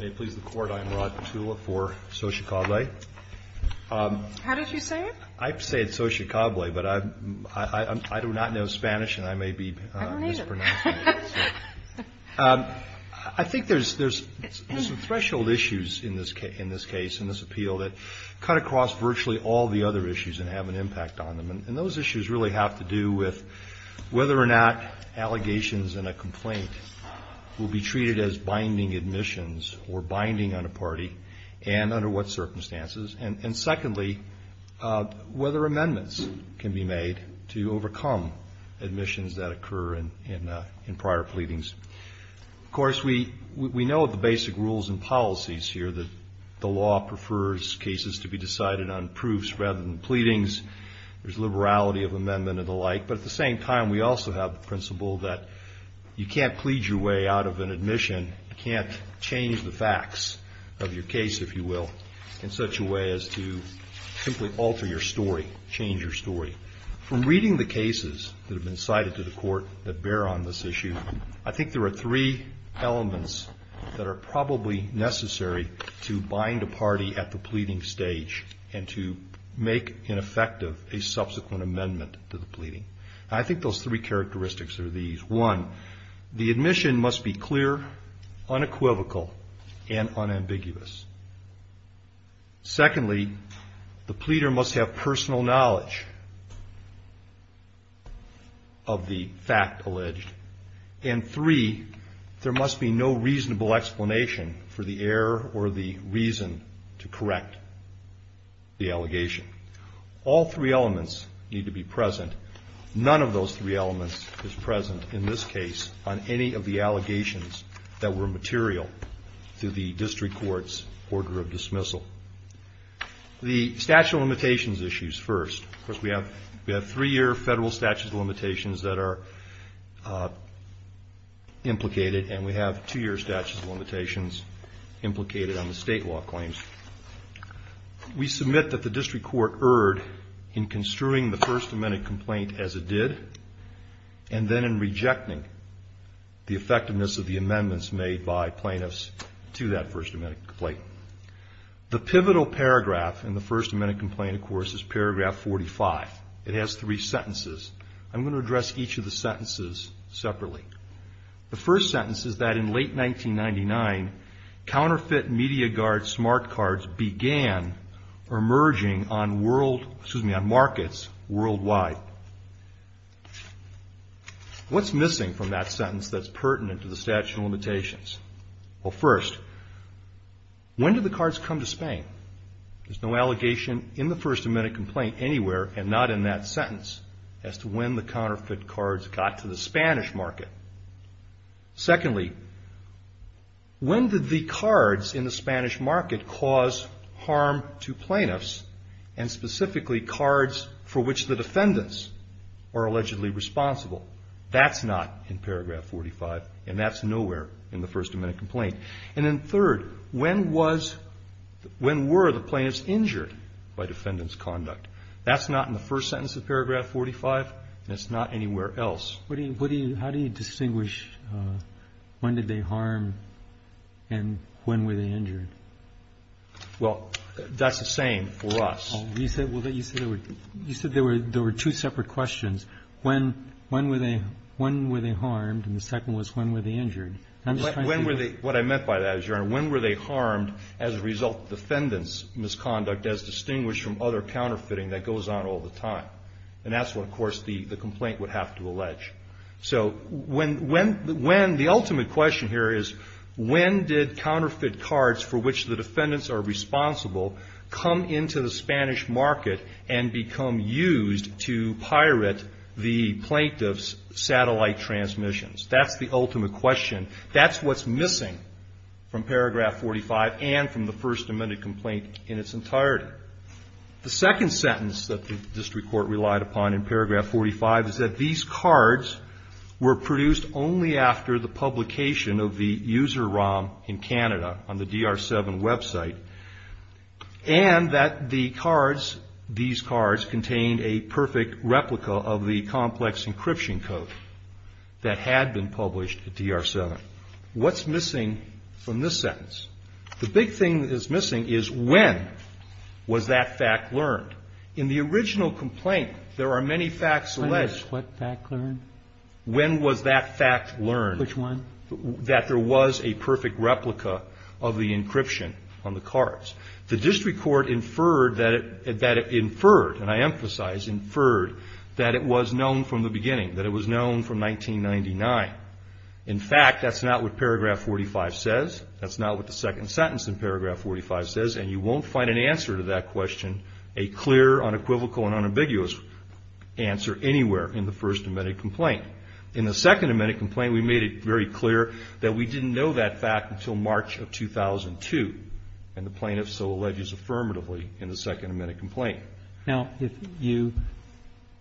May it please the Court, I am Rod Petula for SOGECABLE. How did you say it? I say it SOGECABLE, but I do not know Spanish, and I may be mispronouncing it. I don't either. I think there's some threshold issues in this case, in this appeal, that cut across virtually all the other issues and have an impact on them. And those issues really have to do with whether or not allegations in a complaint will be treated as binding admissions or binding on a party, and under what circumstances, and secondly, whether amendments can be made to overcome admissions that occur in prior pleadings. Of course, we know the basic rules and policies here, that the law prefers cases to be decided on proofs rather than pleadings. There's liberality of amendment and the like, but at the same time, we also have the principle that you can't plead your way out of an admission, you can't change the facts of your case, if you will, in such a way as to simply alter your story, change your story. From reading the cases that have been cited to the Court that bear on this issue, I think there are three elements that are probably necessary to bind a party at the pleading stage and to make ineffective a subsequent amendment to the pleading. I think those three characteristics are these. One, the admission must be clear, unequivocal, and unambiguous. Secondly, the pleader must have personal knowledge of the fact alleged. And three, there must be no reasonable explanation for the error or the reason to correct the allegation. All three elements need to be present. None of those three elements is present in this case on any of the allegations that were material to the district court's order of dismissal. The statute of limitations issues first. Of course, we have three-year federal statute of limitations that are implicated, and we have two-year statute of limitations implicated on the state law claims. We submit that the district court erred in construing the First Amendment complaint as it did and then in rejecting the effectiveness of the amendments made by plaintiffs to that First Amendment complaint. The pivotal paragraph in the First Amendment complaint, of course, is paragraph 45. It has three sentences. I'm going to address each of the sentences separately. The first sentence is that in late 1999, counterfeit MediaGuard smart cards began emerging on markets worldwide. What's missing from that sentence that's pertinent to the statute of limitations? Well, first, when did the cards come to Spain? There's no allegation in the First Amendment complaint anywhere, and not in that sentence, as to when the counterfeit cards got to the Spanish market. Secondly, when did the cards in the Spanish market cause harm to plaintiffs, and specifically cards for which the defendants are allegedly responsible? That's not in paragraph 45, and that's nowhere in the First Amendment complaint. And then third, when was the – when were the plaintiffs injured by defendant's conduct? That's not in the first sentence of paragraph 45, and it's not anywhere else. How do you distinguish when did they harm and when were they injured? Well, that's the same for us. You said there were two separate questions. One was when were they harmed, and the second was when were they injured. When were they – what I meant by that is, Your Honor, when were they harmed as a result of defendant's misconduct, as distinguished from other counterfeiting that goes on all the time? And that's what, of course, the complaint would have to allege. So when – the ultimate question here is when did counterfeit cards for which the defendants are responsible come into the Spanish market and become used to pirate the plaintiff's satellite transmissions? That's the ultimate question. That's what's missing from paragraph 45 and from the First Amendment complaint in its entirety. The second sentence that the district court relied upon in paragraph 45 is that these cards were produced only after the publication of the user ROM in Canada on the DR-7 website, and that the cards – these cards contained a perfect replica of the complex encryption code that had been published at DR-7. What's missing from this sentence? The big thing that is missing is when was that fact learned? In the original complaint, there are many facts alleged. When was what fact learned? When was that fact learned? Which one? That there was a perfect replica of the encryption on the cards. The district court inferred that it – that it inferred, and I emphasize inferred, that it was known from the beginning, that it was known from 1999. In fact, that's not what paragraph 45 says. That's not what the second sentence in paragraph 45 says. And you won't find an answer to that question, a clear, unequivocal, and unambiguous answer anywhere in the First Amendment complaint. In the Second Amendment complaint, we made it very clear that we didn't know that fact until March of 2002, and the plaintiff so alleges affirmatively in the Second Amendment complaint. Now, if you –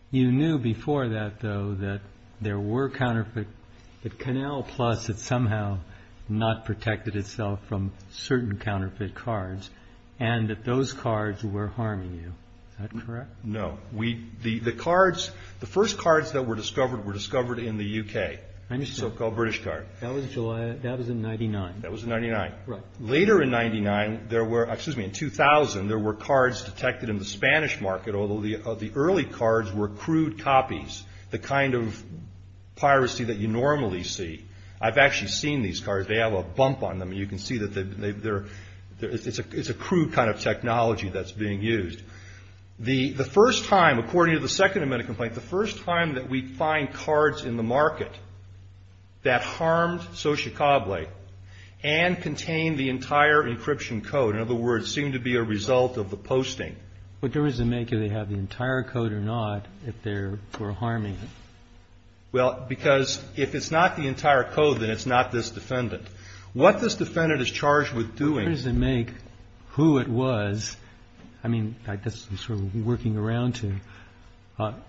you knew before that, though, that there were counterfeit – that Canal Plus had somehow not protected itself from certain counterfeit cards and that those cards were harming you. Is that correct? No. We – the cards – the first cards that were discovered were discovered in the U.K., the so-called British card. I understand. That was July – that was in 99. That was in 99. Right. Later in 99, there were – excuse me, in 2000, there were cards detected in the Spanish market, although the early cards were crude copies, the kind of piracy that you normally see. I've actually seen these cards. They have a bump on them, and you can see that they're – it's a crude kind of technology that's being used. The first time, according to the Second Amendment complaint, the first time that we find cards in the market that harmed Xochicable and contained the entire encryption code, in other words, seemed to be a result of the posting. But does it make it that they have the entire code or not if they're – were harming it? Well, because if it's not the entire code, then it's not this defendant. What this defendant is charged with doing – I guess I'm sort of working around you.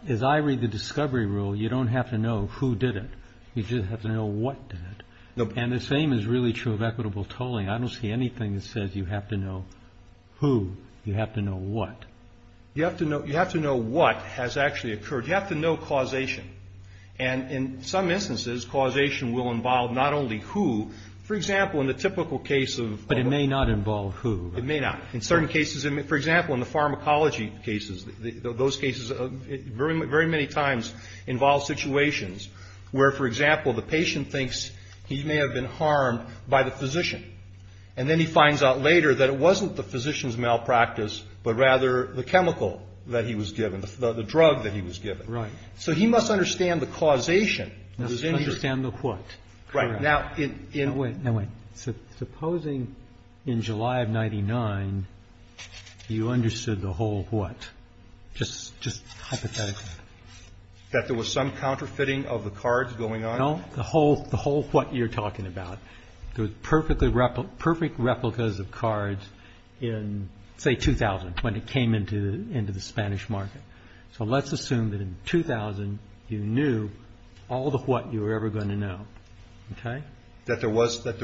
As I read the discovery rule, you don't have to know who did it. You just have to know what did it. And the same is really true of equitable tolling. I don't see anything that says you have to know who, you have to know what. You have to know what has actually occurred. You have to know causation. And in some instances, causation will involve not only who. For example, in the typical case of – But it may not involve who. It may not. In certain cases – for example, in the pharmacology cases, those cases very many times involve situations where, for example, the patient thinks he may have been harmed by the physician, and then he finds out later that it wasn't the physician's malpractice, but rather the chemical that he was given, the drug that he was given. Right. So he must understand the causation. He must understand the what. Right. Now, in – No, wait, no, wait. Supposing in July of 99, you understood the whole what. Just hypothetically. That there was some counterfeiting of the cards going on? No, the whole what you're talking about. There were perfect replicas of cards in, say, 2000, when it came into the Spanish market. So let's assume that in 2000, you knew all the what you were ever going to know, okay? That there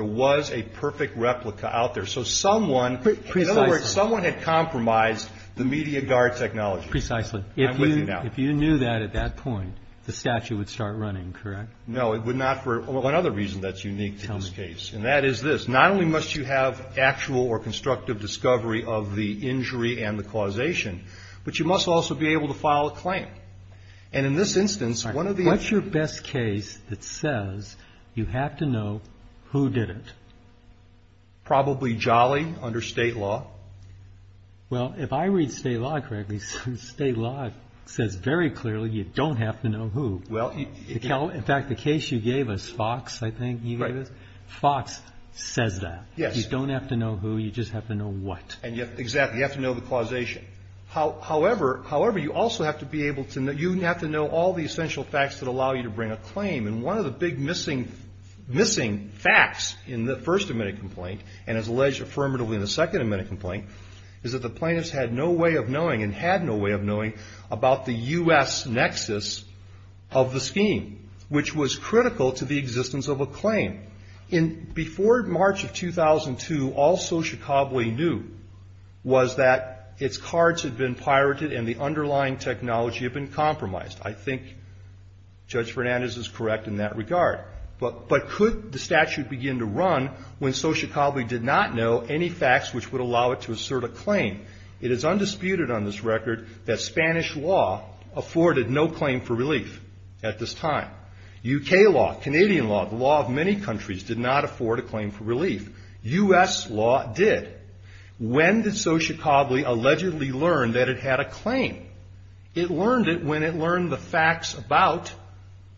was a perfect replica out there. So someone – Precisely. In other words, someone had compromised the media guard technology. Precisely. I'm with you now. If you knew that at that point, the statute would start running, correct? No, it would not for another reason that's unique to this case. And that is this. Not only must you have actual or constructive discovery of the injury and the causation, but you must also be able to file a claim. And in this instance, one of the – you have to know who did it. Probably Jolly under state law. Well, if I read state law correctly, state law says very clearly you don't have to know who. Well – In fact, the case you gave us, Fox, I think you gave us. Right. Fox says that. Yes. You don't have to know who. You just have to know what. Exactly. You have to know the causation. However, you also have to be able to – you have to know all the essential facts that allow you to bring a claim. And one of the big missing facts in the first admitted complaint, and as alleged affirmatively in the second admitted complaint, is that the plaintiffs had no way of knowing and had no way of knowing about the U.S. nexus of the scheme, which was critical to the existence of a claim. Before March of 2002, all Sochicabue knew was that its cards had been pirated and the underlying technology had been compromised. I think Judge Fernandez is correct in that regard. But could the statute begin to run when Sochicabue did not know any facts which would allow it to assert a claim? It is undisputed on this record that Spanish law afforded no claim for relief at this time. U.K. law, Canadian law, the law of many countries did not afford a claim for relief. U.S. law did. When did Sochicabue allegedly learn that it had a claim? It learned it when it learned the facts about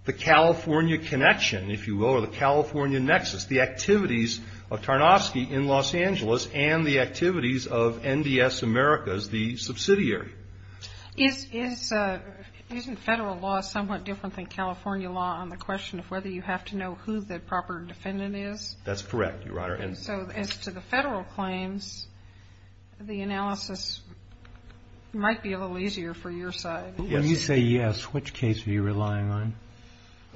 the California connection, if you will, or the California nexus, the activities of Tarnovsky in Los Angeles and the activities of NDS America as the subsidiary. Isn't federal law somewhat different than California law on the question of whether you have to know who the proper defendant is? That's correct, Your Honor. And so as to the federal claims, the analysis might be a little easier for your side. If you say yes, which case are you relying on?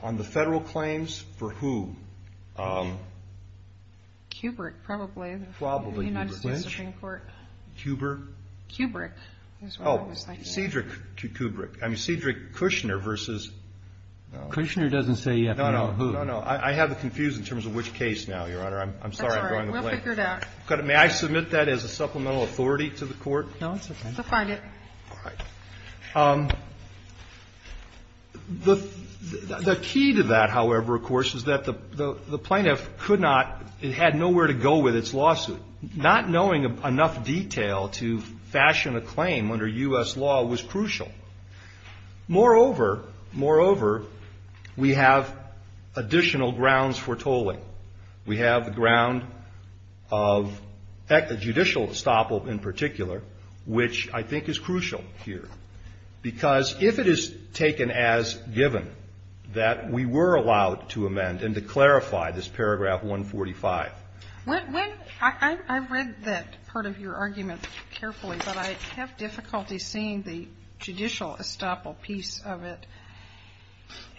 On the federal claims for who? Kubrick, probably. The United States Supreme Court. Kubrick? Kubrick. Oh, Cedric Kubrick. I mean, Cedric Kushner versus no. Kushner doesn't say you have to know who. No, no. I have it confused in terms of which case now, Your Honor. I'm sorry. That's all right. We'll figure it out. May I submit that as a supplemental authority to the Court? No, it's okay. Go find it. All right. The key to that, however, of course, is that the plaintiff could not, it had nowhere to go with its lawsuit. Not knowing enough detail to fashion a claim under U.S. law was crucial. Moreover, moreover, we have additional grounds for tolling. We have the ground of judicial estoppel in particular, which I think is crucial here, because if it is taken as given that we were allowed to amend and to clarify this paragraph 145. I read that part of your argument carefully, but I have difficulty seeing the judicial estoppel piece of it.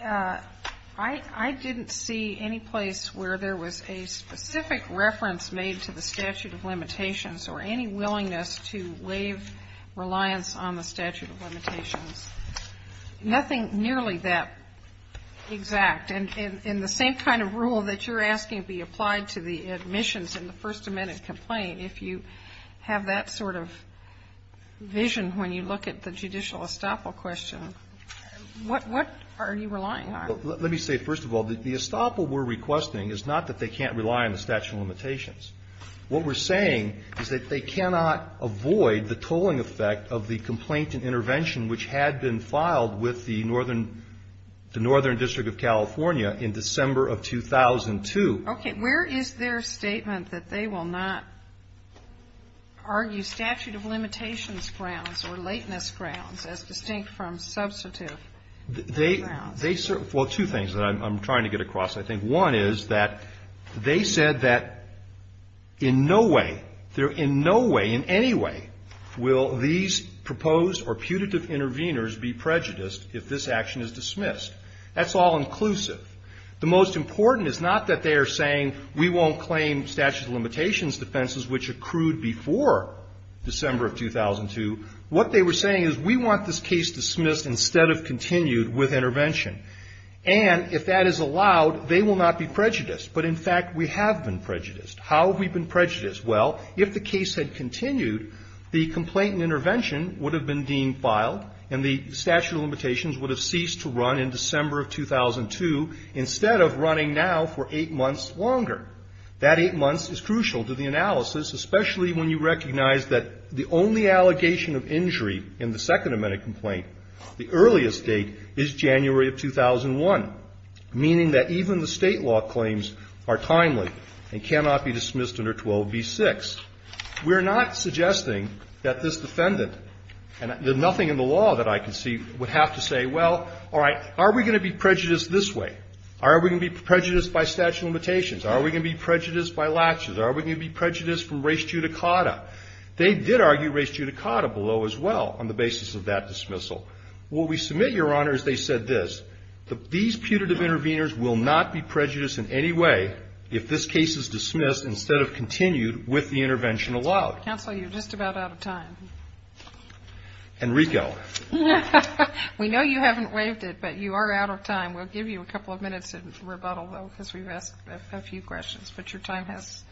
I didn't see any place where there was a specific reference made to the statute of limitations or any willingness to waive reliance on the statute of limitations. Nothing nearly that exact. And the same kind of rule that you're asking be applied to the admissions in the First Amendment complaint, if you have that sort of vision when you look at the judicial estoppel question, what are you relying on? Let me say, first of all, the estoppel we're requesting is not that they can't rely on the statute of limitations. What we're saying is that they cannot avoid the tolling effect of the complaint and intervention which had been filed with the Northern District of California in December of 2002. Okay. Where is their statement that they will not argue statute of limitations grounds or lateness grounds as distinct from substantive grounds? Well, two things that I'm trying to get across. I think one is that they said that in no way, in no way in any way will these proposed or putative intervenors be prejudiced if this action is dismissed. That's all inclusive. The most important is not that they are saying we won't claim statute of limitations defenses which accrued before December of 2002. What they were saying is we want this case dismissed instead of continued with intervention. And if that is allowed, they will not be prejudiced. But, in fact, we have been prejudiced. How have we been prejudiced? Well, if the case had continued, the complaint and intervention would have been deemed filed and the statute of limitations would have ceased to run in December of 2002 instead of running now for eight months longer. That eight months is crucial to the analysis, especially when you recognize that the only allegation of injury in the Second Amendment complaint, the earliest date, is January of 2001, meaning that even the State law claims are timely and cannot be dismissed under 12b-6. We're not suggesting that this defendant, and there's nothing in the law that I can see, would have to say, well, all right, are we going to be prejudiced this way? Are we going to be prejudiced by statute of limitations? Are we going to be prejudiced by latches? Are we going to be prejudiced from res judicata? They did argue res judicata below as well on the basis of that dismissal. What we submit, Your Honor, is they said this. These putative intervenors will not be prejudiced in any way if this case is dismissed instead of continued with the intervention allowed. Counsel, you're just about out of time. Enrico. We know you haven't waived it, but you are out of time. We'll give you a couple of minutes to rebuttal, though, because we've asked a few questions. But your time has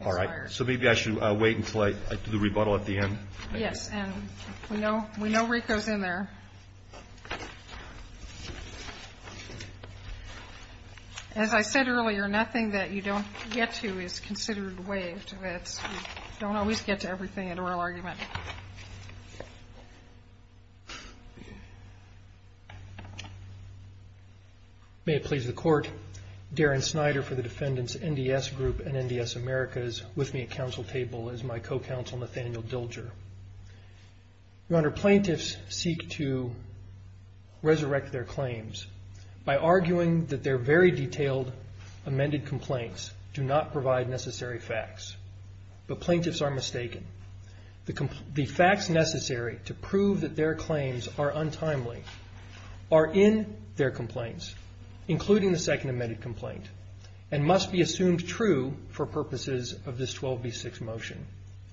expired. All right. So maybe I should wait until I do the rebuttal at the end? Yes. And we know Enrico's in there. As I said earlier, nothing that you don't get to is considered waived. You don't always get to everything in oral argument. May it please the Court, Darren Snyder for the defendants NDS Group and NDS Americas with me at counsel table is my co-counsel, Nathaniel Dilger. Your Honor, plaintiffs seek to resurrect their claims by arguing that their very detailed amended complaints do not provide necessary facts. But plaintiffs are mistaken. The facts necessary to prove that their claims are untimely are in their complaints, including the second amended complaint, and must be assumed true for purposes of this 12B6 motion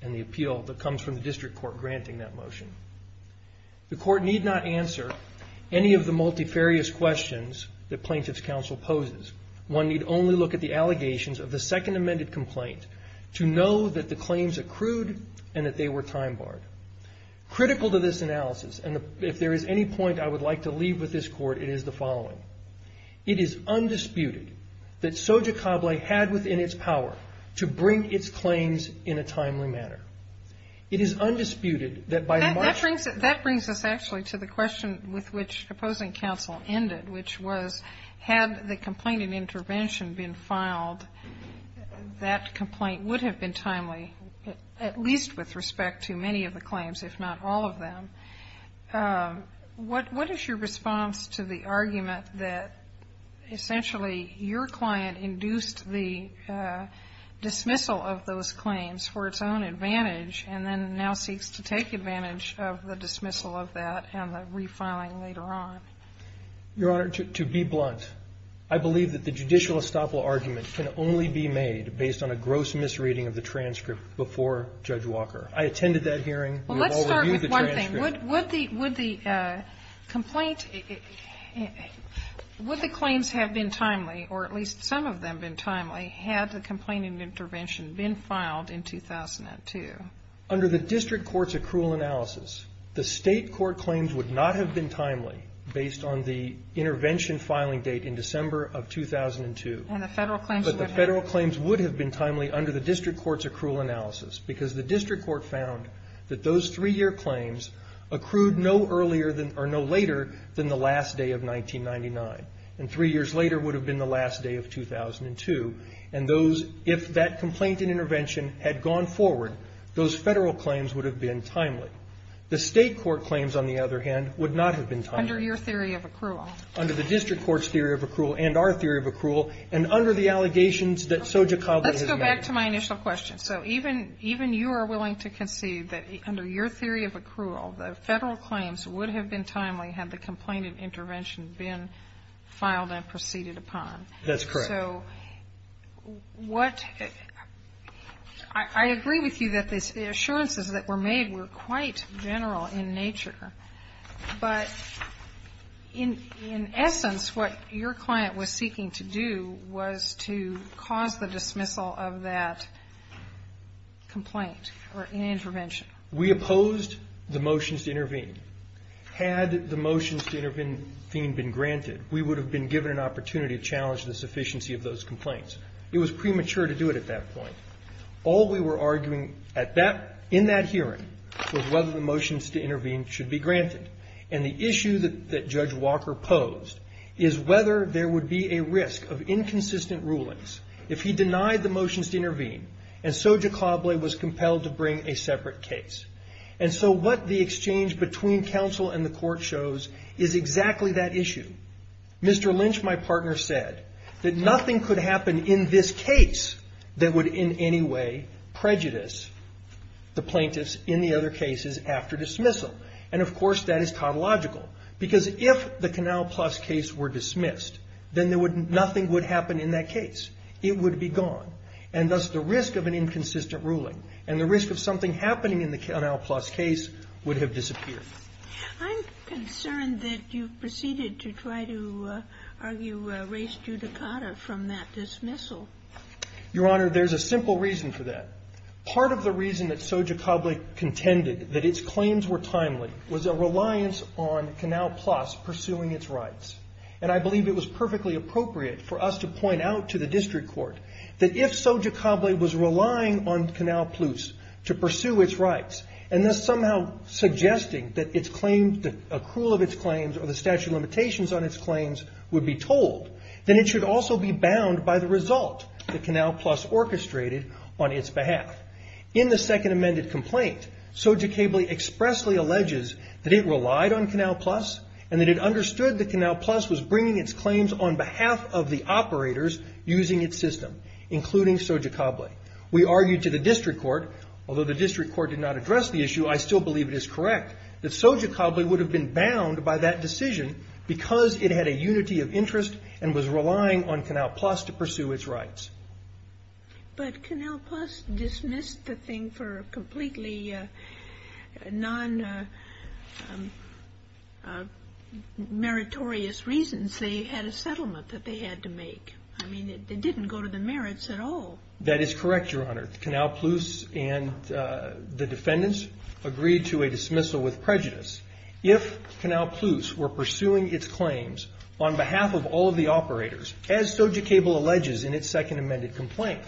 and the appeal that comes from the district court granting that motion. The court need not answer any of the multifarious questions that plaintiffs' counsel poses. One need only look at the allegations of the second amended complaint to know that the claims accrued and that they were time barred. Critical to this analysis, and if there is any point I would like to leave with this court, it is the following. It is undisputed that Soja Cable had within its power to bring its claims in a timely manner. It is undisputed that by the motion of the district court. That brings us actually to the question with which opposing counsel ended, which was had the complaint in intervention been filed, that complaint would have been timely, at least with respect to many of the claims, if not all of them. What is your response to the argument that, essentially, your client induced the dismissal of those claims for its own advantage and then now seeks to take advantage of the dismissal of that and the refiling later on? Your Honor, to be blunt, I believe that the judicial estoppel argument can only be made based on a gross misreading of the transcript before Judge Walker. I attended that hearing. We have all reviewed the transcript. Well, let's start with one thing. Would the complaint, would the claims have been timely, or at least some of them been timely, had the complaint in intervention been filed in 2002? Under the district court's accrual analysis, the state court claims would not have been timely based on the intervention filing date in December of 2002. And the Federal claims would have been? But the Federal claims would have been timely under the district court's accrual analysis because the district court found that those three-year claims accrued no earlier or no later than the last day of 1999. And three years later would have been the last day of 2002. And those, if that complaint in intervention had gone forward, those Federal claims would have been timely. The state court claims, on the other hand, would not have been timely. Under your theory of accrual. Under the district court's theory of accrual and our theory of accrual, and under the allegations that Soja Coble had made. Let's go back to my initial question. So even you are willing to concede that under your theory of accrual, the Federal claims would have been timely had the complaint in intervention been filed and proceeded upon. That's correct. So what – I agree with you that the assurances that were made were quite general in nature. But in essence, what your client was seeking to do was to cause the dismissal of that complaint or intervention. We opposed the motions to intervene. Had the motions to intervene been granted, we would have been given an opportunity to challenge the sufficiency of those complaints. It was premature to do it at that point. All we were arguing at that – in that hearing was whether the motions to intervene should be granted. And the issue that Judge Walker posed is whether there would be a risk of inconsistent rulings. If he denied the motions to intervene and Soja Coble was compelled to bring a separate case. And so what the exchange between counsel and the court shows is exactly that issue. Mr. Lynch, my partner, said that nothing could happen in this case that would in any way prejudice the plaintiffs in the other cases after dismissal. And, of course, that is tautological. Because if the Canal Plus case were dismissed, then nothing would happen in that case. It would be gone. And thus the risk of an inconsistent ruling and the risk of something happening in the Canal Plus case would have disappeared. I'm concerned that you've proceeded to try to argue race judicata from that dismissal. Your Honor, there's a simple reason for that. Part of the reason that Soja Coble contended that its claims were timely was a reliance on Canal Plus pursuing its rights. And I believe it was perfectly appropriate for us to point out to the district court that if Soja Coble was relying on Canal Plus to pursue its rights and thus somehow suggesting that the accrual of its claims or the statute of limitations on its claims would be told, then it should also be bound by the result that Canal Plus orchestrated on its behalf. In the second amended complaint, Soja Coble expressly alleges that it relied on Canal Plus was bringing its claims on behalf of the operators using its system, including Soja Coble. We argued to the district court, although the district court did not address the issue, I still believe it is correct, that Soja Coble would have been bound by that decision because it had a unity of interest and was relying on Canal Plus to pursue its rights. But Canal Plus dismissed the thing for completely non-meritorious reasons. They had a settlement that they had to make. I mean, it didn't go to the merits at all. That is correct, Your Honor. Canal Plus and the defendants agreed to a dismissal with prejudice. If Canal Plus were pursuing its claims on behalf of all of the operators, as Soja Coble alleges in its second amended complaint,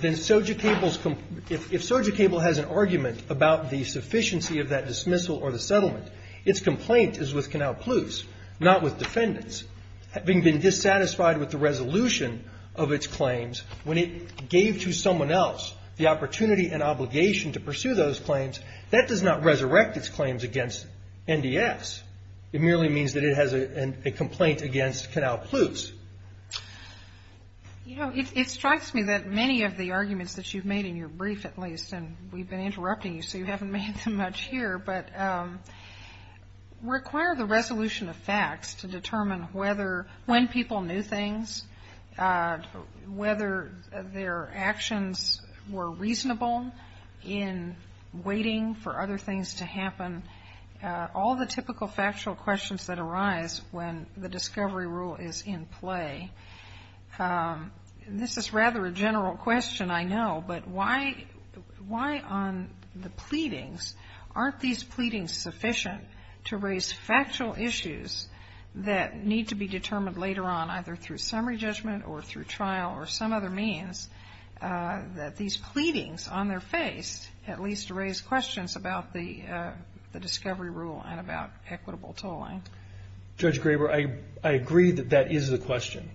then if Soja Coble has an argument about the sufficiency of that dismissal or the settlement, its complaint is with Canal Plus, not with defendants. Having been dissatisfied with the resolution of its claims, when it gave to someone else the opportunity and obligation to pursue those claims, that does not resurrect its claims against NDS. It merely means that it has a complaint against Canal Plus. You know, it strikes me that many of the arguments that you've made in your brief at least, and we've been interrupting you so you haven't made them much here, but require the resolution of facts to determine whether when people knew things, whether their actions were reasonable in waiting for other things to happen, all the typical factual questions that arise when the discovery rule is in play. This is rather a general question, I know, but why on the pleadings, aren't these pleadings sufficient to raise factual issues that need to be determined later on, either through summary judgment or through trial or some other means, that these pleadings on their face at least raise questions about the discovery rule and about equitable tolling? Judge Graber, I agree that that is the question,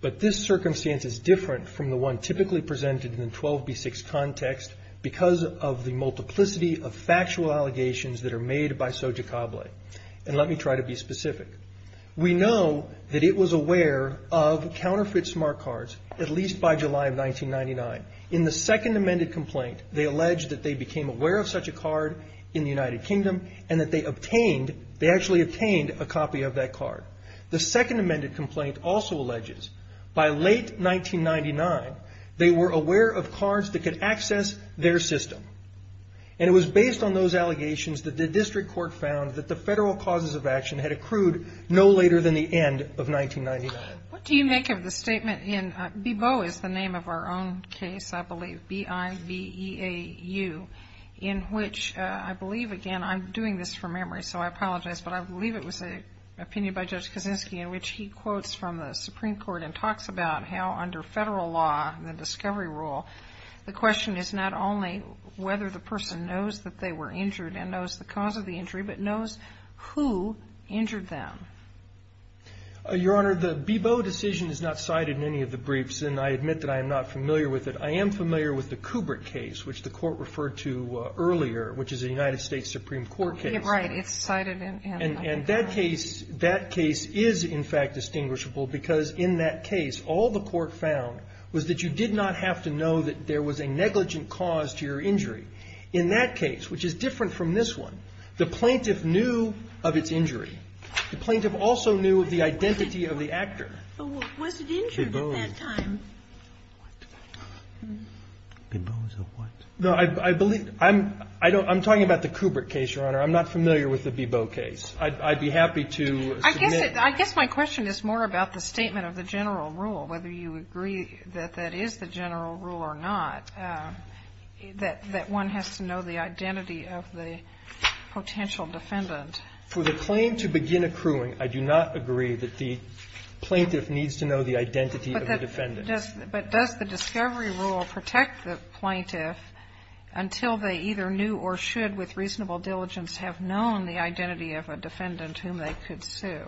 but this circumstance is different from the one typically presented in the 12b-6 context because of the multiplicity of factual allegations that are made by Soja Cable. And let me try to be specific. We know that it was aware of counterfeit smart cards at least by July of 1999. In the second amended complaint, they alleged that they became aware of such a card in the United Kingdom and that they obtained, they actually obtained a copy of that card. The second amended complaint also alleges by late 1999, they were aware of cards that could access their system. And it was based on those allegations that the district court found that the federal causes of action had accrued no later than the end of 1999. What do you make of the statement in, Bebo is the name of our own case, I believe, B-I-B-E-A-U, in which I believe, again, I'm doing this from memory, so I apologize, but I believe it was an opinion by Judge Kaczynski in which he quotes from the Supreme Court and talks about how under federal law, the discovery rule, the question is not only whether the person knows that they were injured and knows the cause of the injury, but knows who injured them. Your Honor, the Bebo decision is not cited in any of the briefs, and I admit that I am not familiar with it. I am familiar with the Kubrick case, which the Court referred to earlier, which is a United States Supreme Court case. Right. It's cited in the brief. And that case is, in fact, distinguishable because in that case, all the Court found was that you did not have to know that there was a negligent cause to your injury. In that case, which is different from this one, the plaintiff knew of its injury. The plaintiff also knew of the identity of the actor. But was it injured at that time? Bebo's. What? Bebo's of what? No, I believe, I'm talking about the Kubrick case, Your Honor. I'm not familiar with the Bebo case. I'd be happy to submit. I guess my question is more about the statement of the general rule, whether you agree that that is the general rule or not, that one has to know the identity of the potential defendant. For the claim to begin accruing, I do not agree that the plaintiff needs to know the identity of the defendant. But does the discovery rule protect the plaintiff until they either knew or should with reasonable diligence have known the identity of a defendant whom they could sue?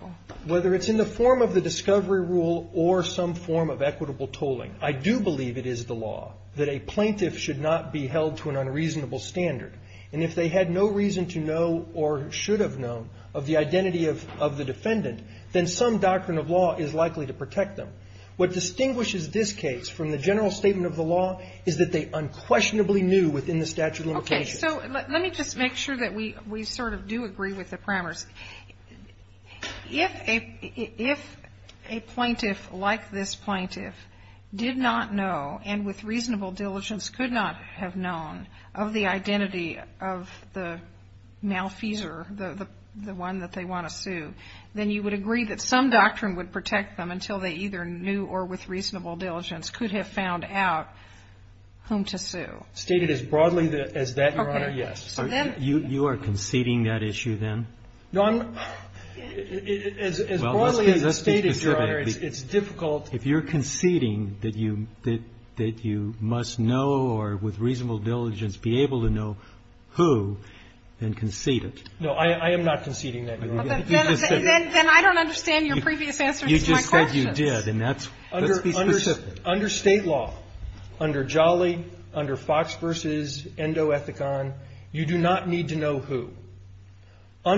Whether it's in the form of the discovery rule or some form of equitable tolling, I do believe it is the law that a plaintiff should not be held to an unreasonable standard. And if they had no reason to know or should have known of the identity of the defendant, then some doctrine of law is likely to protect them. What distinguishes this case from the general statement of the law is that they unquestionably knew within the statute of limitations. Okay. So let me just make sure that we sort of do agree with the primers. If a plaintiff like this plaintiff did not know and with reasonable diligence could not have known of the identity of the malfeasor, the one that they want to sue, then you would agree that some doctrine would protect them until they either knew or with reasonable diligence could have found out whom to sue. Stated as broadly as that, Your Honor, yes. Okay. You are conceding that issue then? No. As broadly as it's stated, Your Honor, it's difficult. If you're conceding that you must know or with reasonable diligence be able to know who, then concede it. No. I am not conceding that, Your Honor. Then I don't understand your previous answer to my question. You just said you did. Let's be specific. Under State law, under Jolly, under Fox v. Endo Ethicon, you do not need to know who. For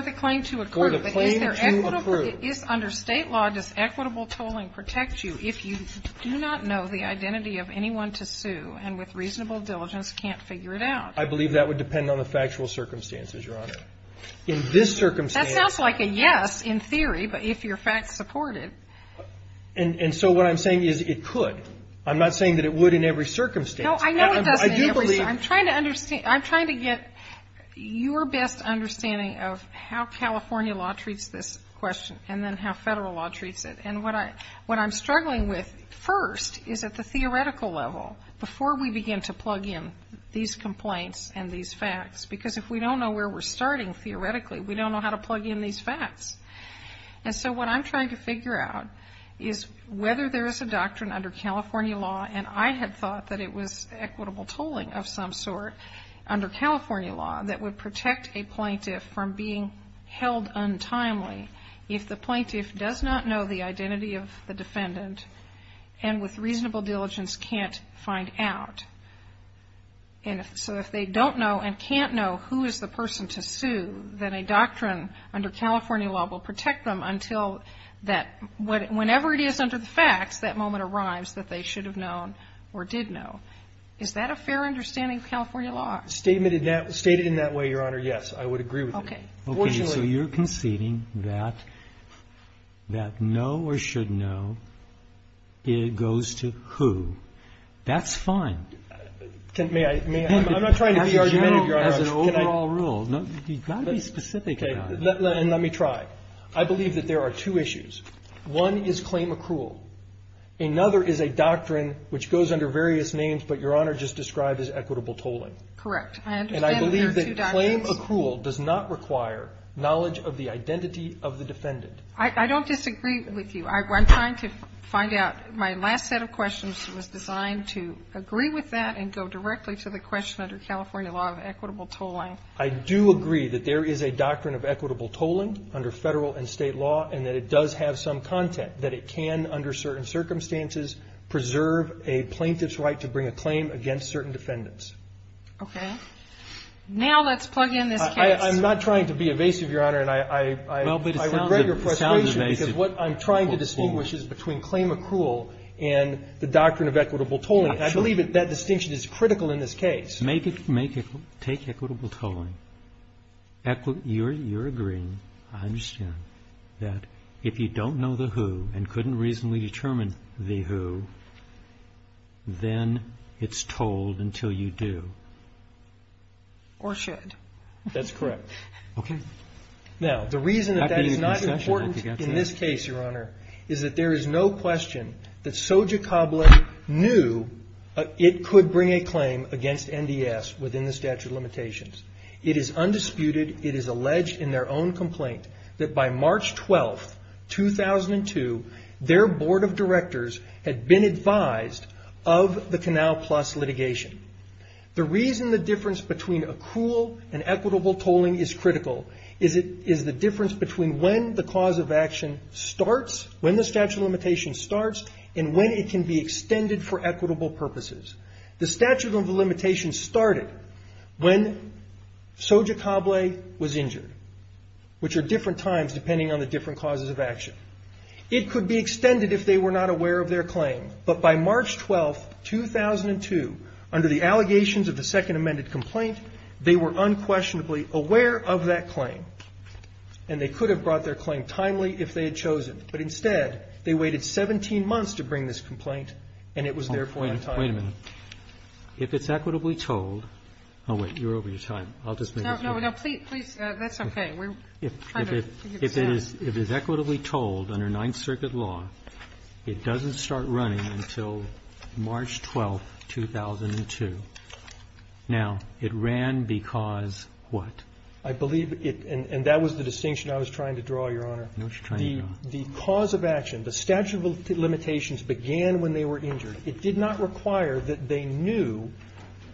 the claim to accrue. For the claim to accrue. Under State law, does equitable tolling protect you if you do not know the identity of anyone to sue and with reasonable diligence can't figure it out? I believe that would depend on the factual circumstances, Your Honor. In this circumstance. That sounds like a yes in theory, but if your facts support it. And so what I'm saying is it could. I'm not saying that it would in every circumstance. No, I know it doesn't in every circumstance. I do believe. I'm trying to get your best understanding of how California law treats this question and then how Federal law treats it. And what I'm struggling with first is at the theoretical level, before we begin to plug in these complaints and these facts, because if we don't know where we're starting theoretically, we don't know how to plug in these facts. And so what I'm trying to figure out is whether there is a doctrine under California law, and I had thought that it was equitable tolling of some sort, under California law that would protect a plaintiff from being held untimely if the plaintiff does not know the identity of the defendant and with reasonable diligence can't find out. And so if they don't know and can't know who is the person to sue, then a doctrine under California law will protect them until that, whenever it is under the facts, that moment arrives that they should have known or did know. Is that a fair understanding of California law? Stated in that way, Your Honor, yes. I would agree with it. Okay. So you're conceding that no or should know goes to who? That's fine. May I? I'm not trying to be argumentative, Your Honor. As an overall rule, you've got to be specific about it. Let me try. I believe that there are two issues. One is claim accrual. Another is a doctrine which goes under various names, but Your Honor just described as equitable tolling. Correct. I understand there are two doctrines. And I believe that claim accrual does not require knowledge of the identity of the defendant. I don't disagree with you. I'm trying to find out. My last set of questions was designed to agree with that and go directly to the question under California law of equitable tolling. I do agree that there is a doctrine of equitable tolling under federal and state law, and that it does have some content that it can, under certain circumstances, preserve a plaintiff's right to bring a claim against certain defendants. Okay. Now let's plug in this case. I'm not trying to be evasive, Your Honor, and I regret your frustration. It sounds evasive. Because what I'm trying to distinguish is between claim accrual and the doctrine of equitable tolling. I believe that distinction is critical in this case. Take equitable tolling. You're agreeing, I understand, that if you don't know the who and couldn't reasonably determine the who, then it's tolled until you do. Or should. That's correct. Okay. Now, the reason that that is not important in this case, Your Honor, is that there is no question that Soja Cable knew it could bring a claim against NDS within the statute of limitations. It is undisputed, it is alleged in their own complaint, that by March 12, 2002, their board of directors had been advised of the Canal Plus litigation. The reason the difference between accrual and equitable tolling is critical is the difference between when the cause of action starts, when the statute of limitations starts, and when it can be extended for equitable purposes. The statute of limitations started when Soja Cable was injured, which are different times depending on the different causes of action. It could be extended if they were not aware of their claim. But by March 12, 2002, under the allegations of the second amended complaint, they were unquestionably aware of that claim. And they could have brought their claim timely if they had chosen. But instead, they waited 17 months to bring this complaint, and it was there for a time. Wait a minute. If it's equitably tolled – oh, wait. You're over your time. I'll just make this quick. No, no. Please, please. That's okay. We're trying to get this out. If it is equitably tolled under Ninth Circuit law, it doesn't start running until March 12, 2002. Now, it ran because what? I believe it – and that was the distinction I was trying to draw, Your Honor. I know what you're trying to draw. The cause of action, the statute of limitations began when they were injured. It did not require that they knew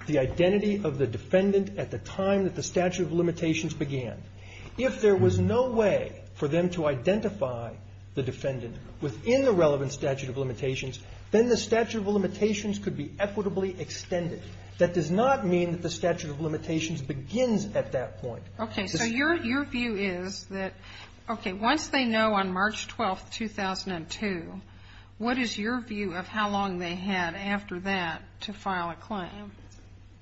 the identity of the defendant at the time that the statute of limitations began. If there was no way for them to identify the defendant within the relevant statute of limitations, then the statute of limitations could be equitably extended. That does not mean that the statute of limitations begins at that point. Okay, so your view is that – okay, once they know on March 12, 2002, what is your view of how long they had after that to file a claim?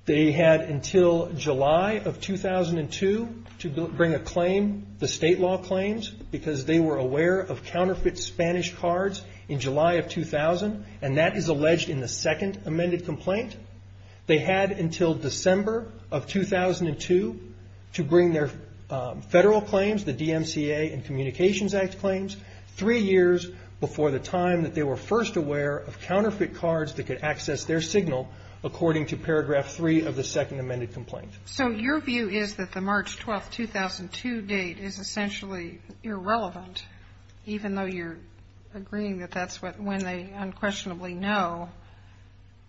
They had until July of 2002 to bring a claim, the state law claims, because they were aware of counterfeit Spanish cards in July of 2000, and that is alleged in the second amended complaint. They had until December of 2002 to bring their federal claims, the DMCA and Communications Act claims, three years before the time that they were first aware of counterfeit cards that could access their signal, according to paragraph 3 of the second amended complaint. So your view is that the March 12, 2002 date is essentially irrelevant, even though you're agreeing that that's when they unquestionably know.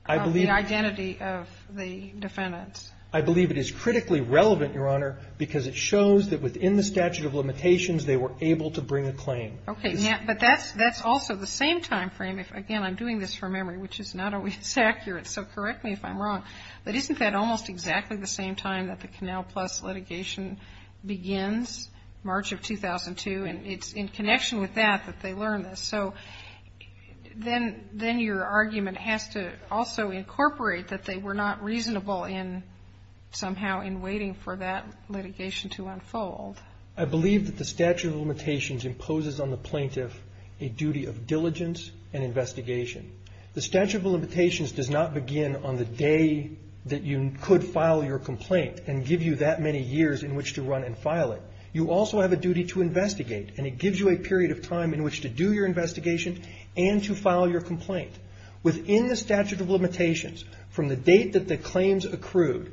I believe the identity of the defendants. I believe it is critically relevant, Your Honor, because it shows that within the statute of limitations they were able to bring a claim. Okay. But that's also the same time frame. Again, I'm doing this from memory, which is not always accurate, so correct me if I'm wrong. But isn't that almost exactly the same time that the Canal Plus litigation begins, March of 2002, and it's in connection with that that they learn this? So then your argument has to also incorporate that they were not reasonable in somehow in waiting for that litigation to unfold. I believe that the statute of limitations imposes on the plaintiff a duty of diligence and investigation. The statute of limitations does not begin on the day that you could file your complaint and give you that many years in which to run and file it. You also have a duty to investigate, and it gives you a period of time in which to do your investigation and to file your complaint. Within the statute of limitations, from the date that the claims accrued,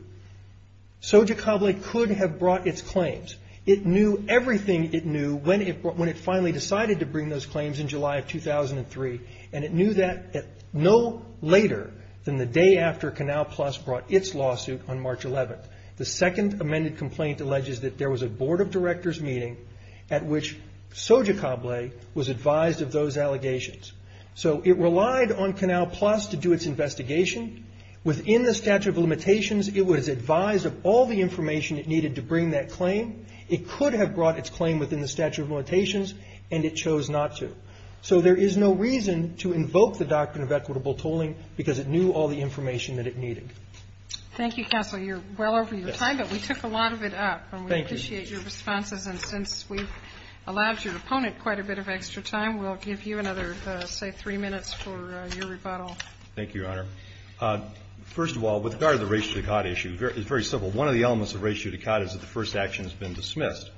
Soja Cobley could have brought its claims. It knew everything it knew when it finally decided to bring those claims in July of 2003, and it knew that no later than the day after Canal Plus brought its lawsuit on March 11th. The second amended complaint alleges that there was a board of directors meeting at which Soja Cobley was advised of those allegations. So it relied on Canal Plus to do its investigation. Within the statute of limitations, it was advised of all the information it needed to bring that claim. It could have brought its claim within the statute of limitations, and it chose not to. So there is no reason to invoke the doctrine of equitable tolling because it knew all the information that it needed. Thank you, Counsel. You're well over your time, but we took a lot of it up. Thank you. And we appreciate your responses, and since we've allowed your opponent quite a bit of extra time, we'll give you another, say, three minutes for your rebuttal. Thank you, Your Honor. First of all, with regard to the res judicata issue, it's very simple. One of the elements of res judicata is that the first action has been dismissed.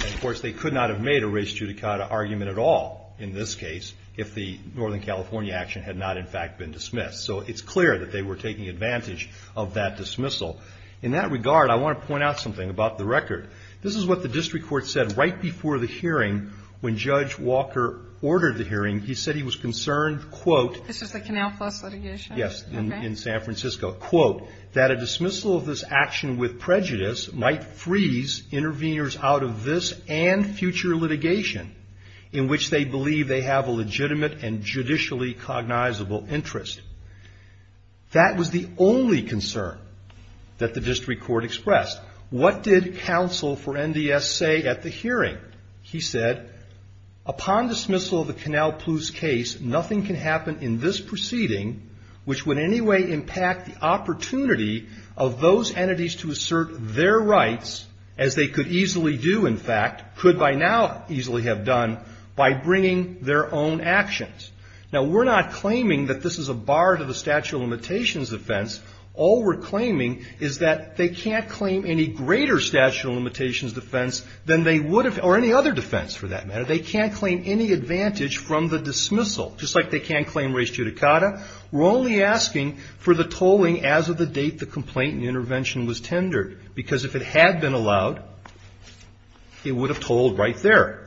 Of course, they could not have made a res judicata argument at all in this case if the Northern California action had not, in fact, been dismissed. So it's clear that they were taking advantage of that dismissal. In that regard, I want to point out something about the record. This is what the district court said right before the hearing when Judge Walker ordered the hearing. He said he was concerned, quote --" This is the Canal Plus litigation? In San Francisco. Quote, That was the only concern that the district court expressed. What did counsel for NDS say at the hearing? He said, Now, we're not claiming that this is a bar to the statute of limitations defense. All we're claiming is that they can't claim any greater statute of limitations defense than they would have or any other defense for that matter. They can't claim any advantage from the dismissal, just like they can't claim res judicata. We're only asking for the tolling as of the date the complaint and intervention was tendered, because if it had been allowed, it would have tolled right there.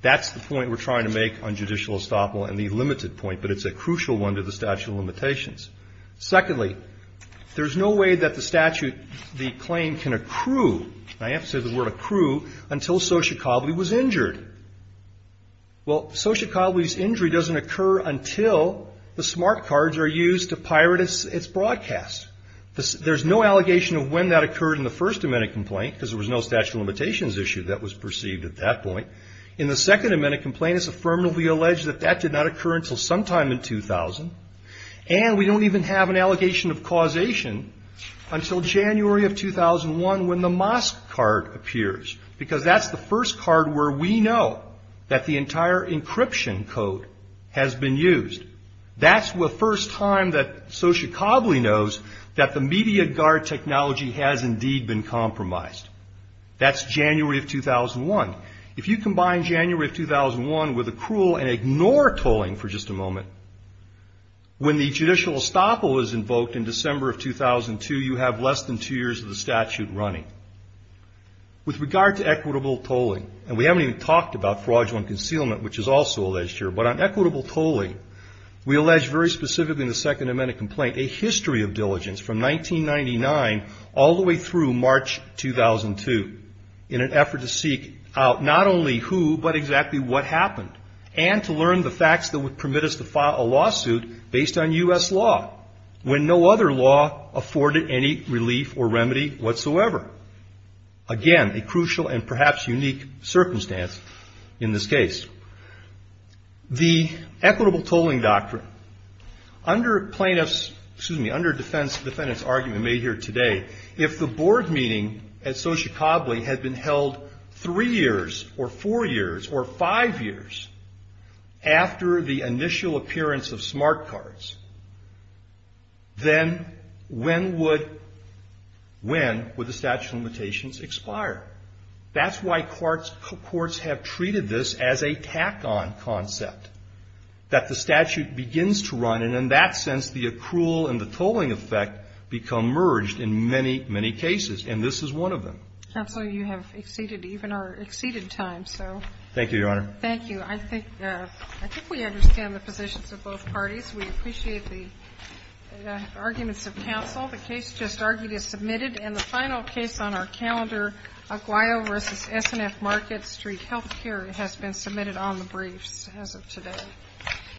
That's the point we're trying to make on judicial estoppel and the limited point, but it's a crucial one to the statute of limitations. Secondly, there's no way that the statute, the claim can accrue. I have to say the word accrue, until Sochikovly was injured. Well, Sochikovly's injury doesn't occur until the smart cards are used to pirate its broadcast. There's no allegation of when that occurred in the first amendment complaint, because there was no statute of limitations issue that was perceived at that point. In the second amendment complaint, it's affirmatively alleged that that did not occur until sometime in 2000, and we don't even have an allegation of causation until January of 2001, when the mask card appears, because that's the first card where we know that the entire encryption code has been used. That's the first time that Sochikovly knows that the media guard technology has indeed been compromised. That's January of 2001. If you combine January of 2001 with accrual and ignore tolling for just a moment, when the judicial estoppel is invoked in December of 2002, you have less than two years of the statute running. With regard to equitable tolling, and we haven't even talked about fraudulent concealment, which is also alleged here, but on equitable tolling, we allege very specifically in the second amendment complaint, a history of diligence from 1999 all the way through March 2002, in an effort to seek out not only who, but exactly what happened, and to learn the facts that would permit us to file a lawsuit based on U.S. law, when no other law afforded any relief or remedy whatsoever. Again, a crucial and perhaps unique circumstance in this case. The equitable tolling doctrine. Under plaintiff's, excuse me, under defendant's argument made here today, if the board meeting at Sochi Copley had been held three years, or four years, or five years after the initial appearance of smart cards, then when would the statute of limitations expire? That's why courts have treated this as a tack-on concept, that the statute begins to run, and in that sense, the accrual and the tolling effect become merged in many, many cases, and this is one of them. Counsel, you have exceeded even our exceeded time, so. Thank you, Your Honor. Thank you. I think we understand the positions of both parties. We appreciate the arguments of counsel. The case just argued is submitted, and the final case on our calendar, Aguayo v. S&F Market Street Healthcare, has been submitted on the briefs as of today.